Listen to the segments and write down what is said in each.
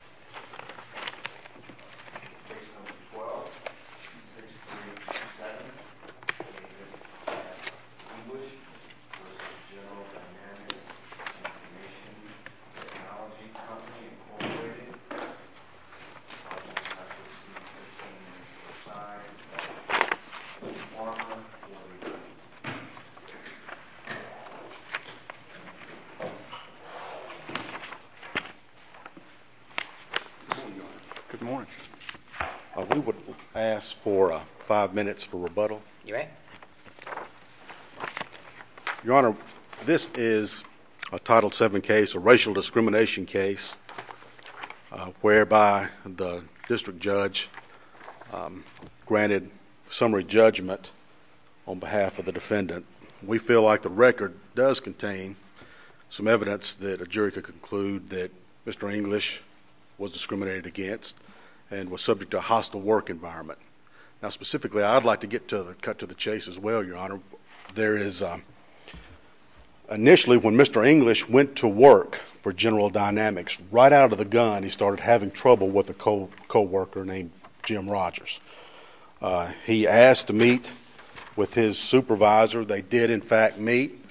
General Dynamics Information Technology Company Incorporated Good morning. We would ask for 5 minutes for rebuttal. You may. Your Honor, this is a Title VII case, a racial judge granted summary judgment on behalf of the defendant. We feel like the record does contain some evidence that a jury could conclude that Mr. English was discriminated against and was subject to a hostile work environment. Now specifically, I'd like to get to the cut to the chase as well, Your Honor. There is initially when Mr. English went to work for the coworker named Jim Rogers. He asked to meet with his supervisor. They did in fact meet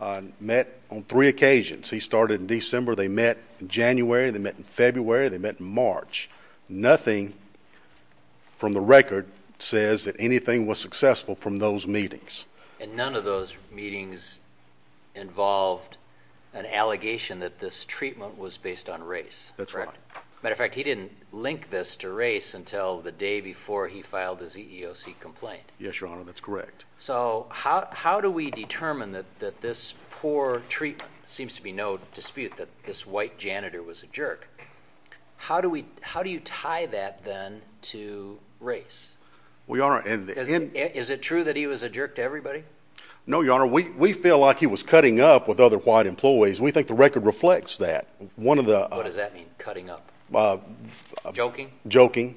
and met on three occasions. He started in December, they met in January, they met in February, they met in March. Nothing from the record says that anything was successful from those meetings. And none of those meetings involved an allegation that this treatment was based on race. That's right. Matter of fact, he didn't link this to race until the day before he filed his EEOC complaint. Yes, Your Honor, that's correct. So how do we determine that this poor treatment, seems to be no dispute that this white janitor was a jerk. How do you tie that then to race? Is it true that he was a jerk to everybody? No, Your Honor, we feel like he was cutting up with other white employees. We think the record reflects that. What does that mean, cutting up? Joking? Joking.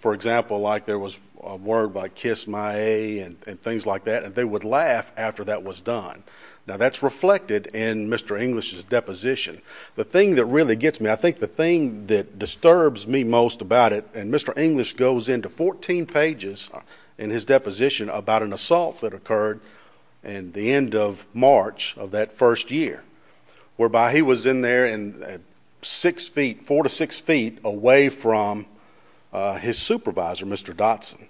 For example, there was a word like kiss my a and things like that. They would laugh after that was done. Now that's reflected in Mr. English's deposition. The thing that really gets me, I think the thing that disturbs me most about it, and Mr. English goes into 14 pages in his deposition about an assault that occurred in the end of March of that first year. Whereby he was in there and six feet, four to six feet away from his supervisor, Mr. Dotson.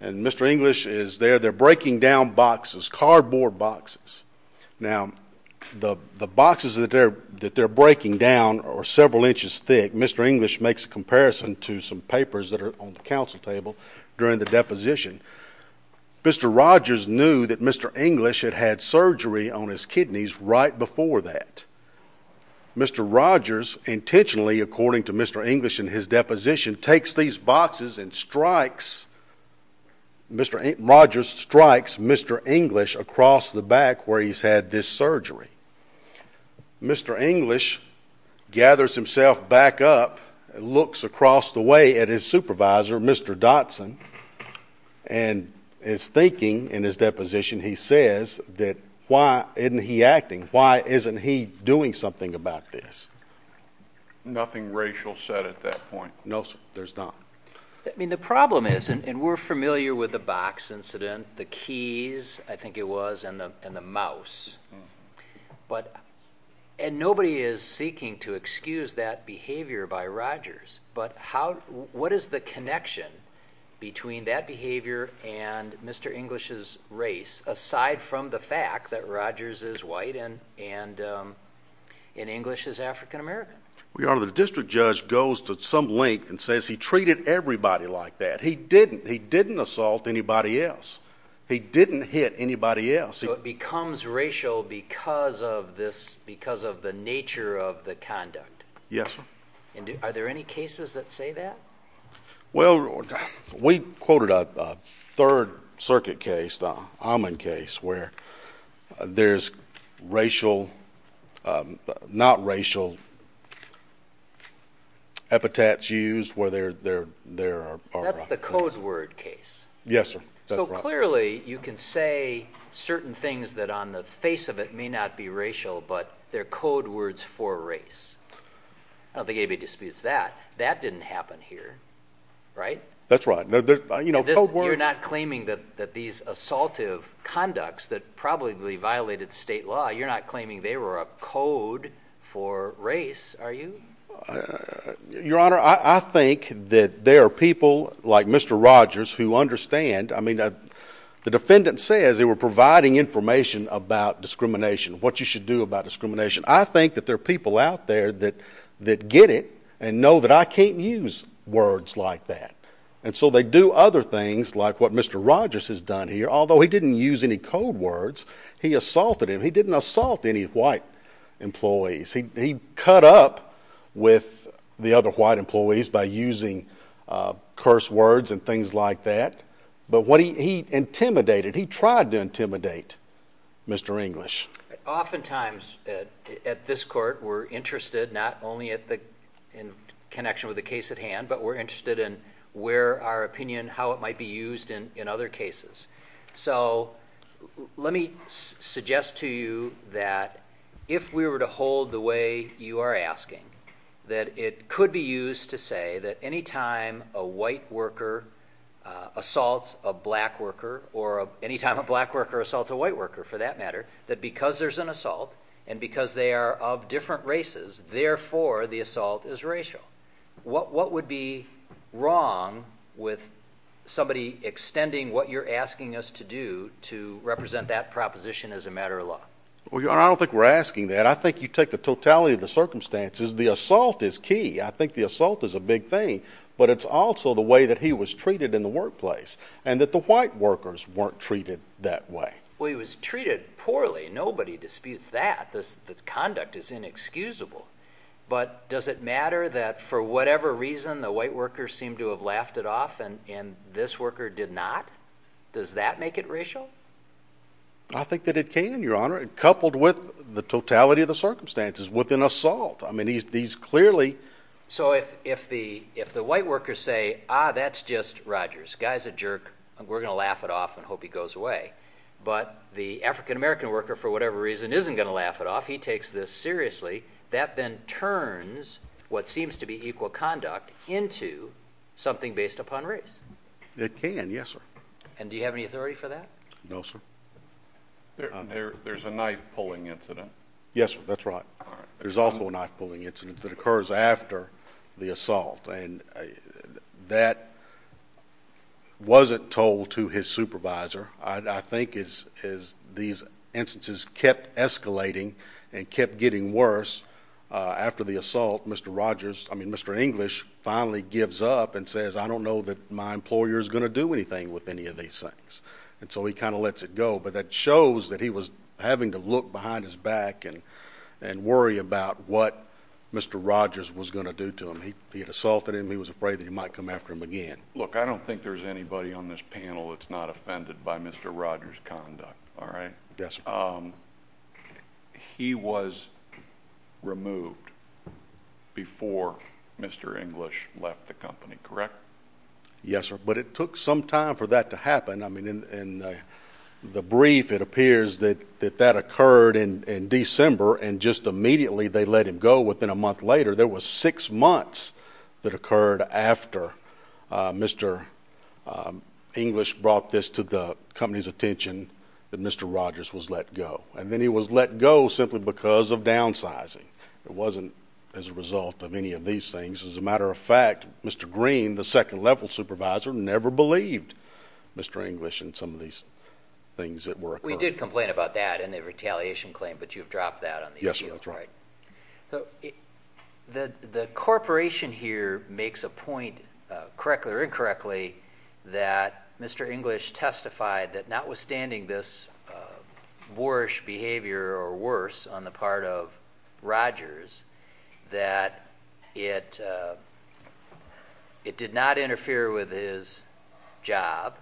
And Mr. English is there, they're breaking down boxes, cardboard boxes. Now the boxes that they're breaking down are several inches thick. Mr. English makes a comparison to some papers that are on the council table during the deposition. Mr. Rogers knew that Mr. English had had surgery on his kidneys right before that. Mr. Rogers intentionally, according to Mr. English in his deposition, takes these boxes and strikes, Mr. Rogers strikes Mr. English across the back where he's had this surgery. Mr. English gathers himself back up and looks across the way at his supervisor, Mr. Dotson, and is thinking in his deposition, he says that why isn't he acting? Why isn't he doing something about this? Nothing racial said at that point. No, there's not. I mean the problem is, and we're talking about the mouse. And nobody is seeking to excuse that behavior by Rogers, but how, what is the connection between that behavior and Mr. English's race, aside from the fact that Rogers is white and in English is African-American? Your Honor, the district judge goes to some length and says he treated everybody like that. He didn't, he didn't assault anybody else. He didn't hit anybody else. So it becomes racial because of this, because of the nature of the conduct? Yes, sir. And are there any cases that say that? Well, we quoted a Third Circuit case, the Almond case, where there's racial, not racial epitaphs used where there, there, there. That's the code word case. Yes, sir. So clearly you can say certain things that on the face of it may not be racial, but they're code words for race. I don't think anybody disputes that. That didn't happen here, right? That's right. You're not claiming that, that these assaultive conducts that probably violated state law, you're not claiming they were a code for race, are you? Your Honor, I think that there are people like Mr. Rogers who understand, I mean, the defendant says they were providing information about discrimination, what you should do about discrimination. I think that there are people out there that, that get it and know that I can't use words like that. And so they do other things like what Mr. Rogers has done here, although he didn't use any code words, he assaulted him. He didn't assault any white employees. He cut up with the other white employees by using curse words and things like that. But what he intimidated, he tried to intimidate Mr. English. Oftentimes at this court, we're interested not only in connection with the case at hand, but we're interested in where our opinion, how it might be used in other cases. So let me suggest to you that if we were to hold the way you are asking, that it could be used to say that anytime a white worker assaults a black worker, or anytime a black worker assaults a white worker, for that matter, that because there's an assault and because they are of different you're asking us to do to represent that proposition as a matter of law. Well, your honor, I don't think we're asking that. I think you take the totality of the circumstances. The assault is key. I think the assault is a big thing. But it's also the way that he was treated in the workplace, and that the white workers weren't treated that way. Well, he was treated poorly. Nobody disputes that this conduct is inexcusable. But does it matter that for whatever reason, the white worker seemed to have laughed it off, and this worker did not? Does that make it racial? I think that it can, your honor. Coupled with the totality of the circumstances, with an assault. I mean, he's clearly... So if the white workers say, ah, that's just Rogers. Guy's a jerk. We're going to laugh it off and hope he goes away. But the African-American worker, for whatever reason, isn't going to laugh it off. He takes this seriously. That then turns what seems to be equal conduct into something based upon race. It can, yes, sir. And do you have any authority for that? No, sir. There's a knife-pulling incident. Yes, sir. That's right. There's also a knife-pulling incident that occurs after the assault, and that wasn't told to his supervisor. I think as these instances kept escalating and kept getting worse, after the assault, Mr. Rogers... I mean, Mr. English finally gives up and says, I don't know that my employer's going to do anything with any of these things. And so he kind of lets it go. But that shows that he was having to look behind his back and worry about what Mr. Rogers was going to do to him. He had assaulted him. He was afraid that he might come after him again. Look, I don't think there's anybody on this panel that's not offended by Mr. Rogers' conduct, all right? Yes, sir. He was removed before Mr. English left the company, correct? Yes, sir. But it took some time for that to happen. I mean, in the brief, it appears that that occurred in December, and just immediately they let him go. Within a month later, there was six months that occurred after Mr. English brought this to the company's attention that Mr. Rogers was let go. And then he was let go simply because of downsizing. It wasn't as a result of any of these things. As a matter of fact, Mr. Green, the second-level supervisor, never believed Mr. English in some of these things that were occurring. We did complain about that in the retaliation claim, but you've dropped that on the appeal, right? The corporation here makes a point, correctly or incorrectly, that Mr. English testified that notwithstanding this boorish behavior or worse on the part of Rogers, that it did not interfere with his job,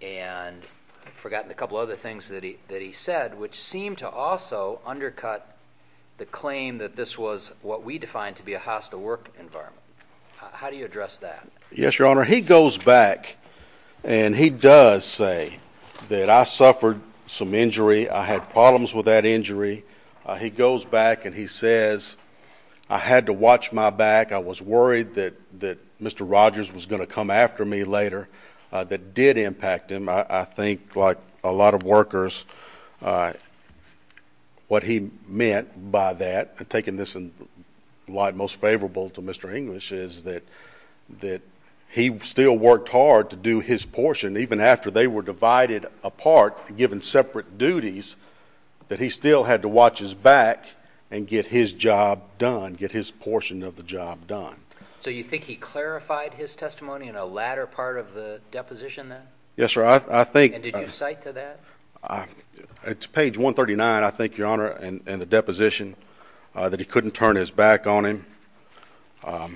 and I've forgotten a couple of other things that he said, which seem to also undercut the claim that this was what we define to be a hostile work environment. How do you address that? Yes, Your Honor, he goes back, and he does say that I suffered some injury, I had problems with that injury. He goes back and he says, I had to watch my back. I was worried that Mr. Rogers was going to come after me later. That did impact him. I think, like a lot of workers, what he meant by that, taking this in the light most favorable to Mr. English, is that he still worked hard to do his portion, even after they were divided apart and given separate duties, that he still had to watch his back and get his job done, get his portion of the job done. So you think he clarified his testimony in a latter part of the deposition then? Yes, sir. And did you cite to that? It's page 139, I think, Your Honor, in the deposition, that he couldn't turn his back on him, that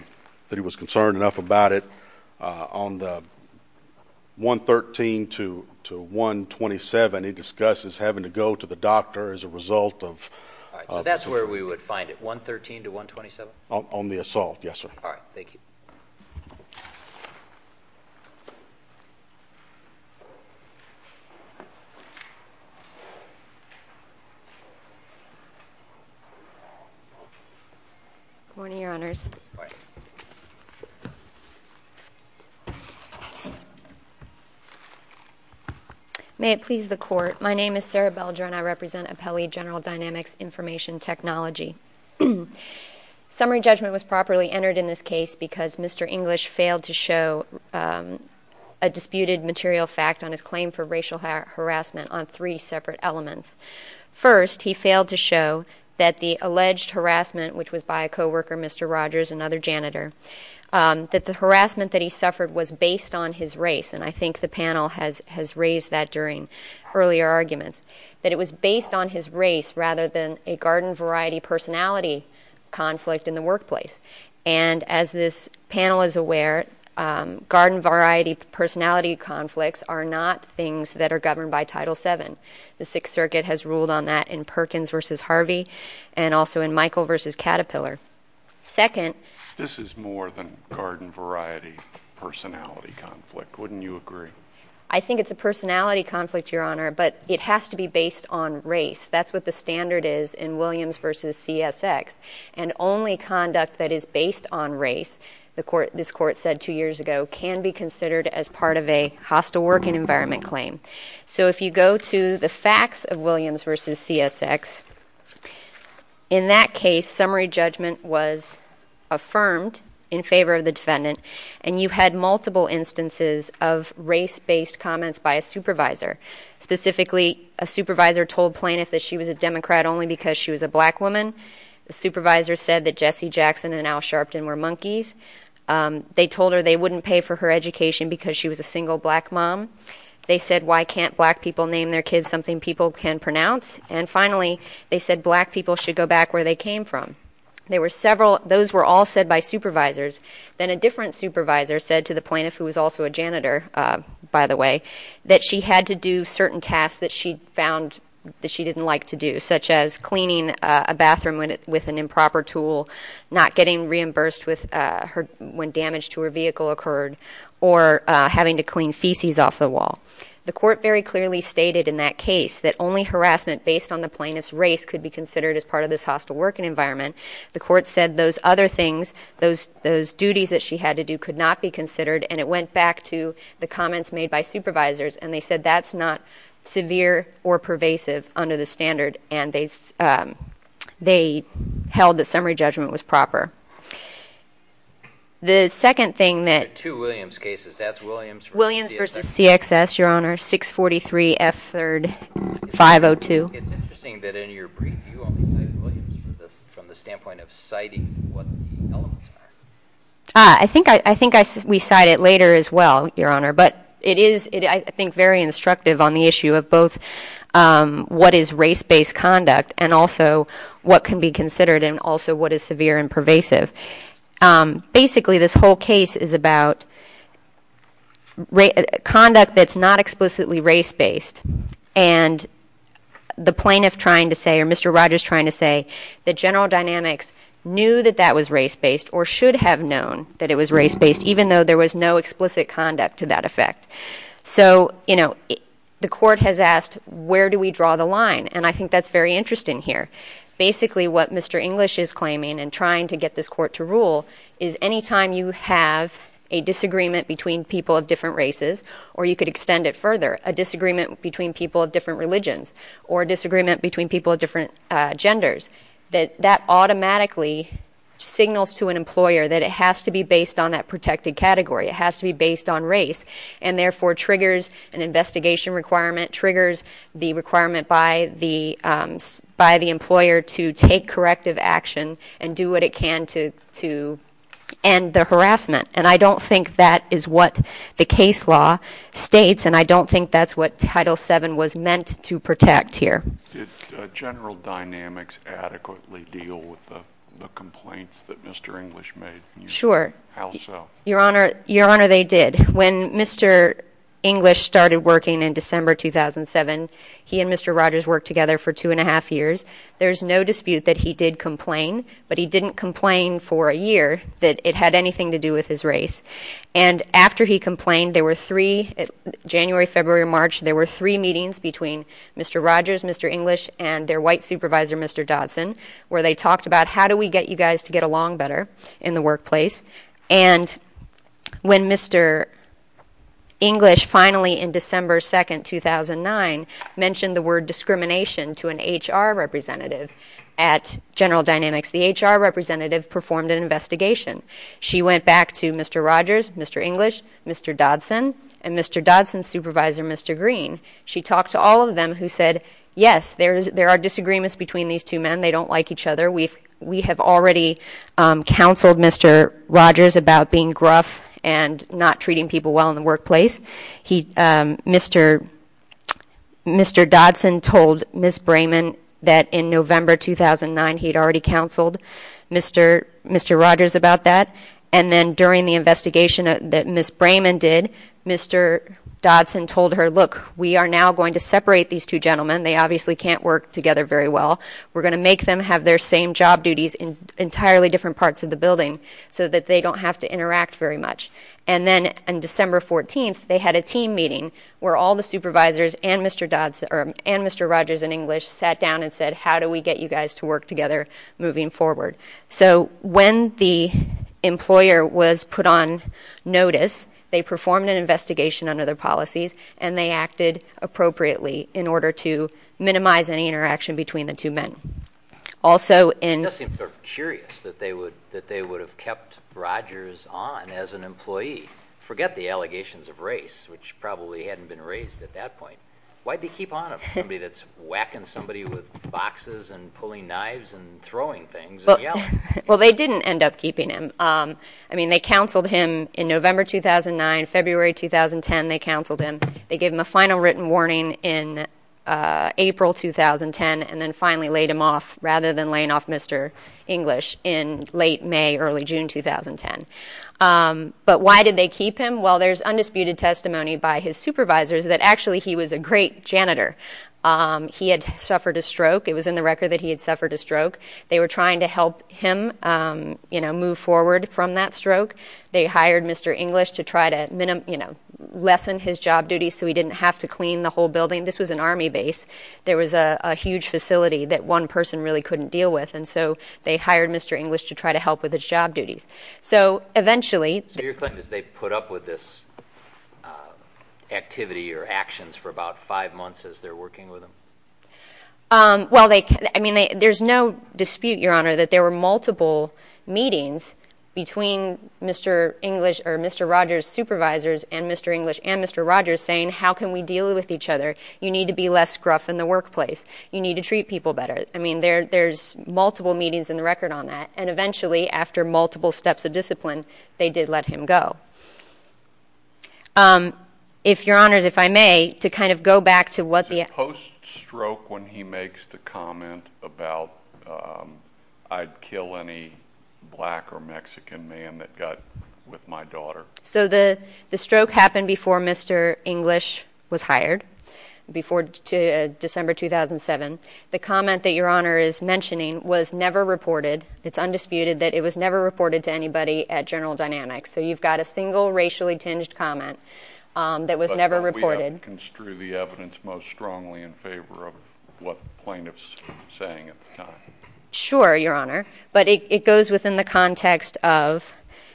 he was concerned enough about it. On the 113 to 127, he discusses having to go to the doctor as a result of his injury. All right, so that's where we would find it, 113 to 127? On the assault, yes, sir. All right, thank you. Good morning, Your Honors. Good morning. May it please the Court, my name is Sarah Belger and I represent Appellee General Dynamics Information Technology. Summary judgment was properly entered in this case because Mr. English failed to show a disputed material fact on his claim for racial harassment on three separate elements. First, he failed to show that the alleged harassment, which was by a co-worker, Mr. Rogers, another janitor, that the harassment that he suffered was based on his race, and I think the panel has raised that during earlier arguments, that it was based on his race rather than a garden variety personality conflict in the workplace. And as this panel is aware, garden variety personality conflicts are not things that are governed by Title VII. The Sixth Circuit has ruled on that in Perkins v. Harvey and also in Michael v. Caterpillar. Second— This is more than garden variety personality conflict. Wouldn't you agree? I think it's a personality conflict, Your Honor, but it has to be based on race. That's what the standard is in Williams v. CSX, and only conduct that is based on race, this Court said two years ago, can be considered as part of a hostile working environment claim. So if you go to the facts of Williams v. CSX, in that case, summary judgment was affirmed in favor of the defendant, and you had multiple instances of race-based comments by a supervisor. Specifically, a supervisor told plaintiff that she was a Democrat only because she was a black woman. The supervisor said that Jesse Jackson and Al Sharpton were monkeys. They told her they wouldn't pay for her education because she was a single black mom. They said, why can't black people name their kids something people can pronounce? And finally, they said black people should go back where they came from. There were several—those were all said by supervisors. Then a different supervisor said to the plaintiff, who was also a janitor, by the way, that she had to do certain tasks that she found that she didn't like to do, such as cleaning a bathroom with an improper tool, not getting reimbursed when damage to her vehicle occurred, or having to clean feces off the wall. The court very clearly stated in that case that only harassment based on the plaintiff's race could be considered as part of this hostile working environment. The court said those other things, those duties that she had to do, could not be considered, and it went back to the comments made by supervisors, and they said that's not severe or pervasive under the standard, and they held that summary judgment was proper. The second thing that— There are two Williams cases. That's Williams v. CXS. Williams v. CXS, Your Honor, 643 F. 3rd 502. It's interesting that in your brief, you only cited Williams from the standpoint of citing what the elements are. I think we cite it later as well, Your Honor, but it is, I think, very instructive on the issue of both what is race-based conduct and also what can be considered, and also what is severe and pervasive. Basically, this whole case is about conduct that's not explicitly race-based, and the plaintiff trying to say, or Mr. Rogers trying to say, that General Dynamics knew that that was race-based or should have known that it was race-based, even though there was no explicit conduct to that effect. So, you know, the court has asked where do we draw the line, and I think that's very interesting here. Basically, what Mr. English is claiming in trying to get this court to rule is anytime you have a disagreement between people of different races, or you could extend it further, a disagreement between people of different religions or a disagreement between people of different genders, that that automatically signals to an employer that it has to be based on that protected category. It has to be based on race, and therefore triggers an investigation requirement, triggers the requirement by the employer to take corrective action and do what it can to end the harassment. And I don't think that is what the case law states, and I don't think that's what Title VII was meant to protect here. Did General Dynamics adequately deal with the complaints that Mr. English made? Sure. How so? Your Honor, they did. When Mr. English started working in December 2007, he and Mr. Rogers worked together for two and a half years. There's no dispute that he did complain, but he didn't complain for a year that it had anything to do with his race. And after he complained, there were three, January, February, March, there were three meetings between Mr. Rogers, Mr. English, and their white supervisor, Mr. Dodson, where they talked about how do we get you guys to get along better in the workplace, and when Mr. English finally, in December 2, 2009, mentioned the word discrimination to an HR representative at General Dynamics, the HR representative performed an investigation. She went back to Mr. Rogers, Mr. English, Mr. Dodson, and Mr. Dodson's supervisor, Mr. Green. She talked to all of them who said, yes, there are disagreements between these two men. They don't like each other. We have already counseled Mr. Rogers about being gruff and not treating people well in the workplace. Mr. Dodson told Ms. Brayman that in November 2009, he had already counseled Mr. Rogers about that. And then during the investigation that Ms. Brayman did, Mr. Dodson told her, look, we are now going to separate these two gentlemen. They obviously can't work together very well. We're going to make them have their same job duties in entirely different parts of the building so that they don't have to interact very much. And then on December 14, they had a team meeting where all the supervisors and Mr. Dodson, and Mr. Rogers and English sat down and said, how do we get you guys to work together moving forward? So when the employer was put on notice, they performed an investigation under their policies, and they acted appropriately in order to minimize any interaction between the two men. Also in- It does seem sort of curious that they would have kept Rogers on as an employee. Forget the allegations of race, which probably hadn't been raised at that point. Why did they keep on him, somebody that's whacking somebody with boxes and pulling knives and throwing things and yelling? Well, they didn't end up keeping him. I mean, they counseled him in November 2009, February 2010, they counseled him. They gave him a final written warning in April 2010, and then finally laid him off rather than laying off Mr. English in late May, early June 2010. But why did they keep him? Well, there's undisputed testimony by his supervisors that actually he was a great janitor. He had suffered a stroke. It was in the record that he had suffered a stroke. They were trying to help him move forward from that stroke. They hired Mr. English to try to lessen his job duties so he didn't have to clean the whole building. This was an Army base. There was a huge facility that one person really couldn't deal with, and so they hired Mr. English to try to help with his job duties. So eventually- So your claim is they put up with this activity or actions for about five months as they're working with him? Well, I mean, there's no dispute, Your Honor, that there were multiple meetings between Mr. English or Mr. Rogers' supervisors and Mr. English and Mr. Rogers saying, how can we deal with each other? You need to be less gruff in the workplace. You need to treat people better. I mean, there's multiple meetings in the record on that, and eventually, after multiple steps of discipline, they did let him go. Your Honors, if I may, to kind of go back to what the- Is there a post-stroke when he makes the comment about, I'd kill any black or Mexican man that got with my daughter? So the stroke happened before Mr. English was hired, before December 2007. The comment that Your Honor is mentioning was never reported. It's undisputed that it was never reported to anybody at General Dynamics. So you've got a single racially-tinged comment that was never reported. We have construed the evidence most strongly in favor of what the plaintiff's saying at the time. Sure, Your Honor. But it goes within the context of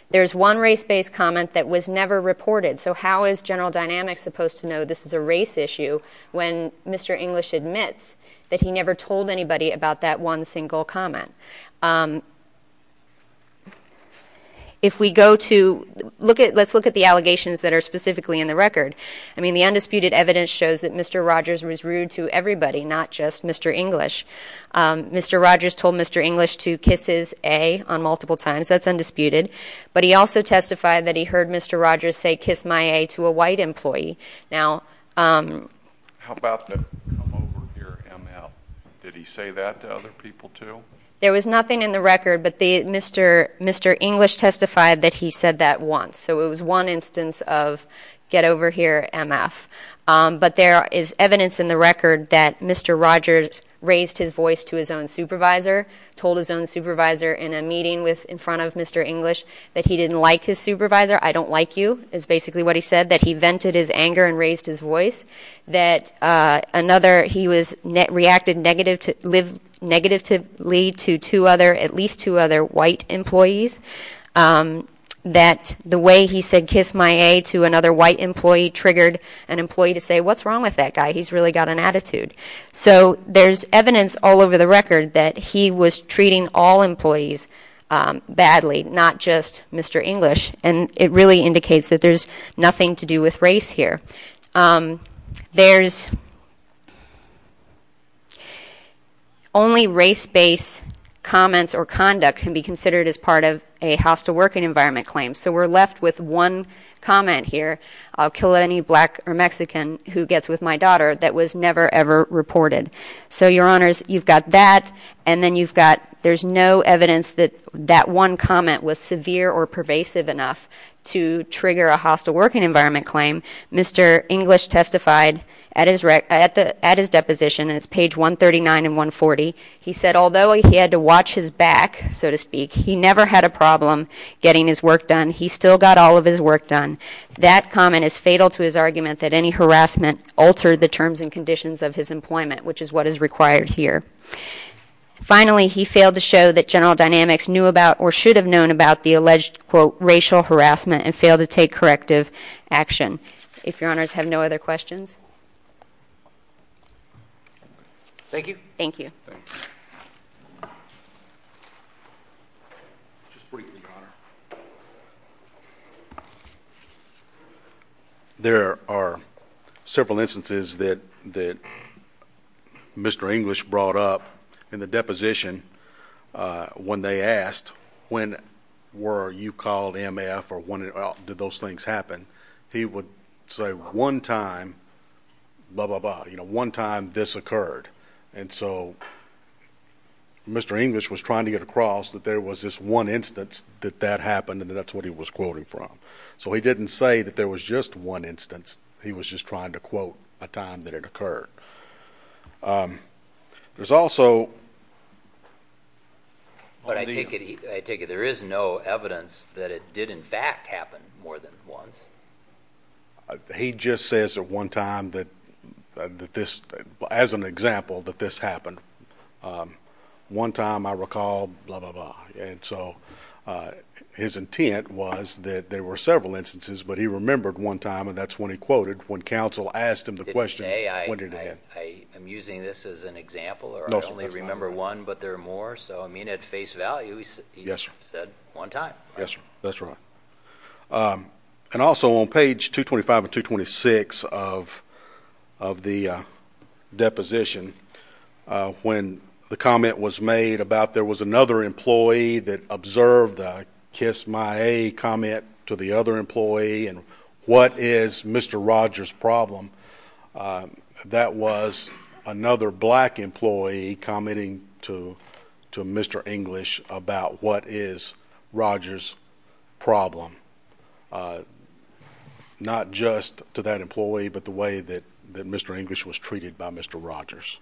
there's one race-based comment that was never reported. So how is General Dynamics supposed to know this is a race issue when Mr. English admits that he never told anybody about that one single comment? If we go to- let's look at the allegations that are specifically in the record. I mean, the undisputed evidence shows that Mr. Rogers was rude to everybody, not just Mr. English. Mr. Rogers told Mr. English to kisses A on multiple times. That's undisputed. But he also testified that he heard Mr. Rogers say kiss my A to a white employee. Now- How about the come over here ML? Did he say that to other people too? There was nothing in the record, but Mr. English testified that he said that once. So it was one instance of get over here, MF. But there is evidence in the record that Mr. Rogers raised his voice to his own supervisor, told his own supervisor in a meeting in front of Mr. English that he didn't like his supervisor. I don't like you is basically what he said, that he vented his anger and raised his voice. That another- he reacted negatively to at least two other white employees. That the way he said kiss my A to another white employee triggered an employee to say, what's wrong with that guy? He's really got an attitude. So there's evidence all over the record that he was treating all employees badly, not just Mr. English. And it really indicates that there's nothing to do with race here. There's only race-based comments or conduct can be considered as part of a hostile working environment claim. So we're left with one comment here, I'll kill any black or Mexican who gets with my daughter, that was never, ever reported. So, your honors, you've got that, and then you've got, there's no evidence that that one comment was severe or pervasive enough to trigger a hostile working environment claim. Mr. English testified at his deposition, and it's page 139 and 140. He said, although he had to watch his back, so to speak, he never had a problem getting his work done. He still got all of his work done. That comment is fatal to his argument that any harassment altered the terms and conditions of his employment, which is what is required here. Finally, he failed to show that General Dynamics knew about or should have known about the alleged, quote, racial harassment and failed to take corrective action. If your honors have no other questions. Thank you. Thank you. Thank you. Just briefly, your honor. There are several instances that Mr. English brought up in the deposition when they asked, when were you called MF or did those things happen? He would say, one time, blah, blah, blah, you know, one time this occurred. And so Mr. English was trying to get across that there was this one instance that that happened and that's what he was quoting from. So he didn't say that there was just one instance. He was just trying to quote a time that it occurred. There's also. I take it there is no evidence that it did, in fact, happen more than once. He just says at one time that this, as an example, that this happened. One time, I recall, blah, blah, blah. And so his intent was that there were several instances, but he remembered one time and that's when he quoted when counsel asked him the question. I am using this as an example. I only remember one, but there are more. So, I mean, at face value, he said one time. Yes, sir. That's right. And also on page 225 and 226 of the deposition, when the comment was made about there was another employee that observed a kiss my a comment to the other employee and what is Mr. Rogers problem? That was another black employee commenting to Mr. English about what is Rogers problem, not just to that employee, but the way that Mr. English was treated by Mr. Rogers.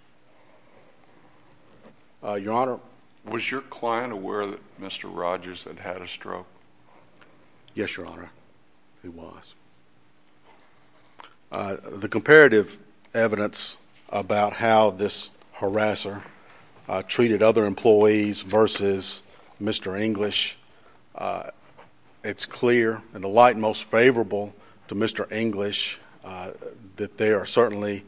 Your Honor. Was your client aware that Mr. Rogers had had a stroke? Yes, Your Honor, he was. The comparative evidence about how this harasser treated other employees versus Mr. English, it's clear and the light most favorable to Mr. English that there are certainly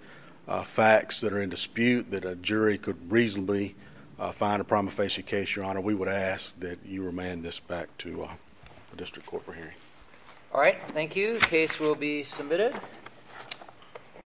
facts that are in dispute that a jury could reasonably find a prima facie case, Your Honor. We would ask that you remand this back to the district court for hearing. All right. Thank you. Case will be submitted.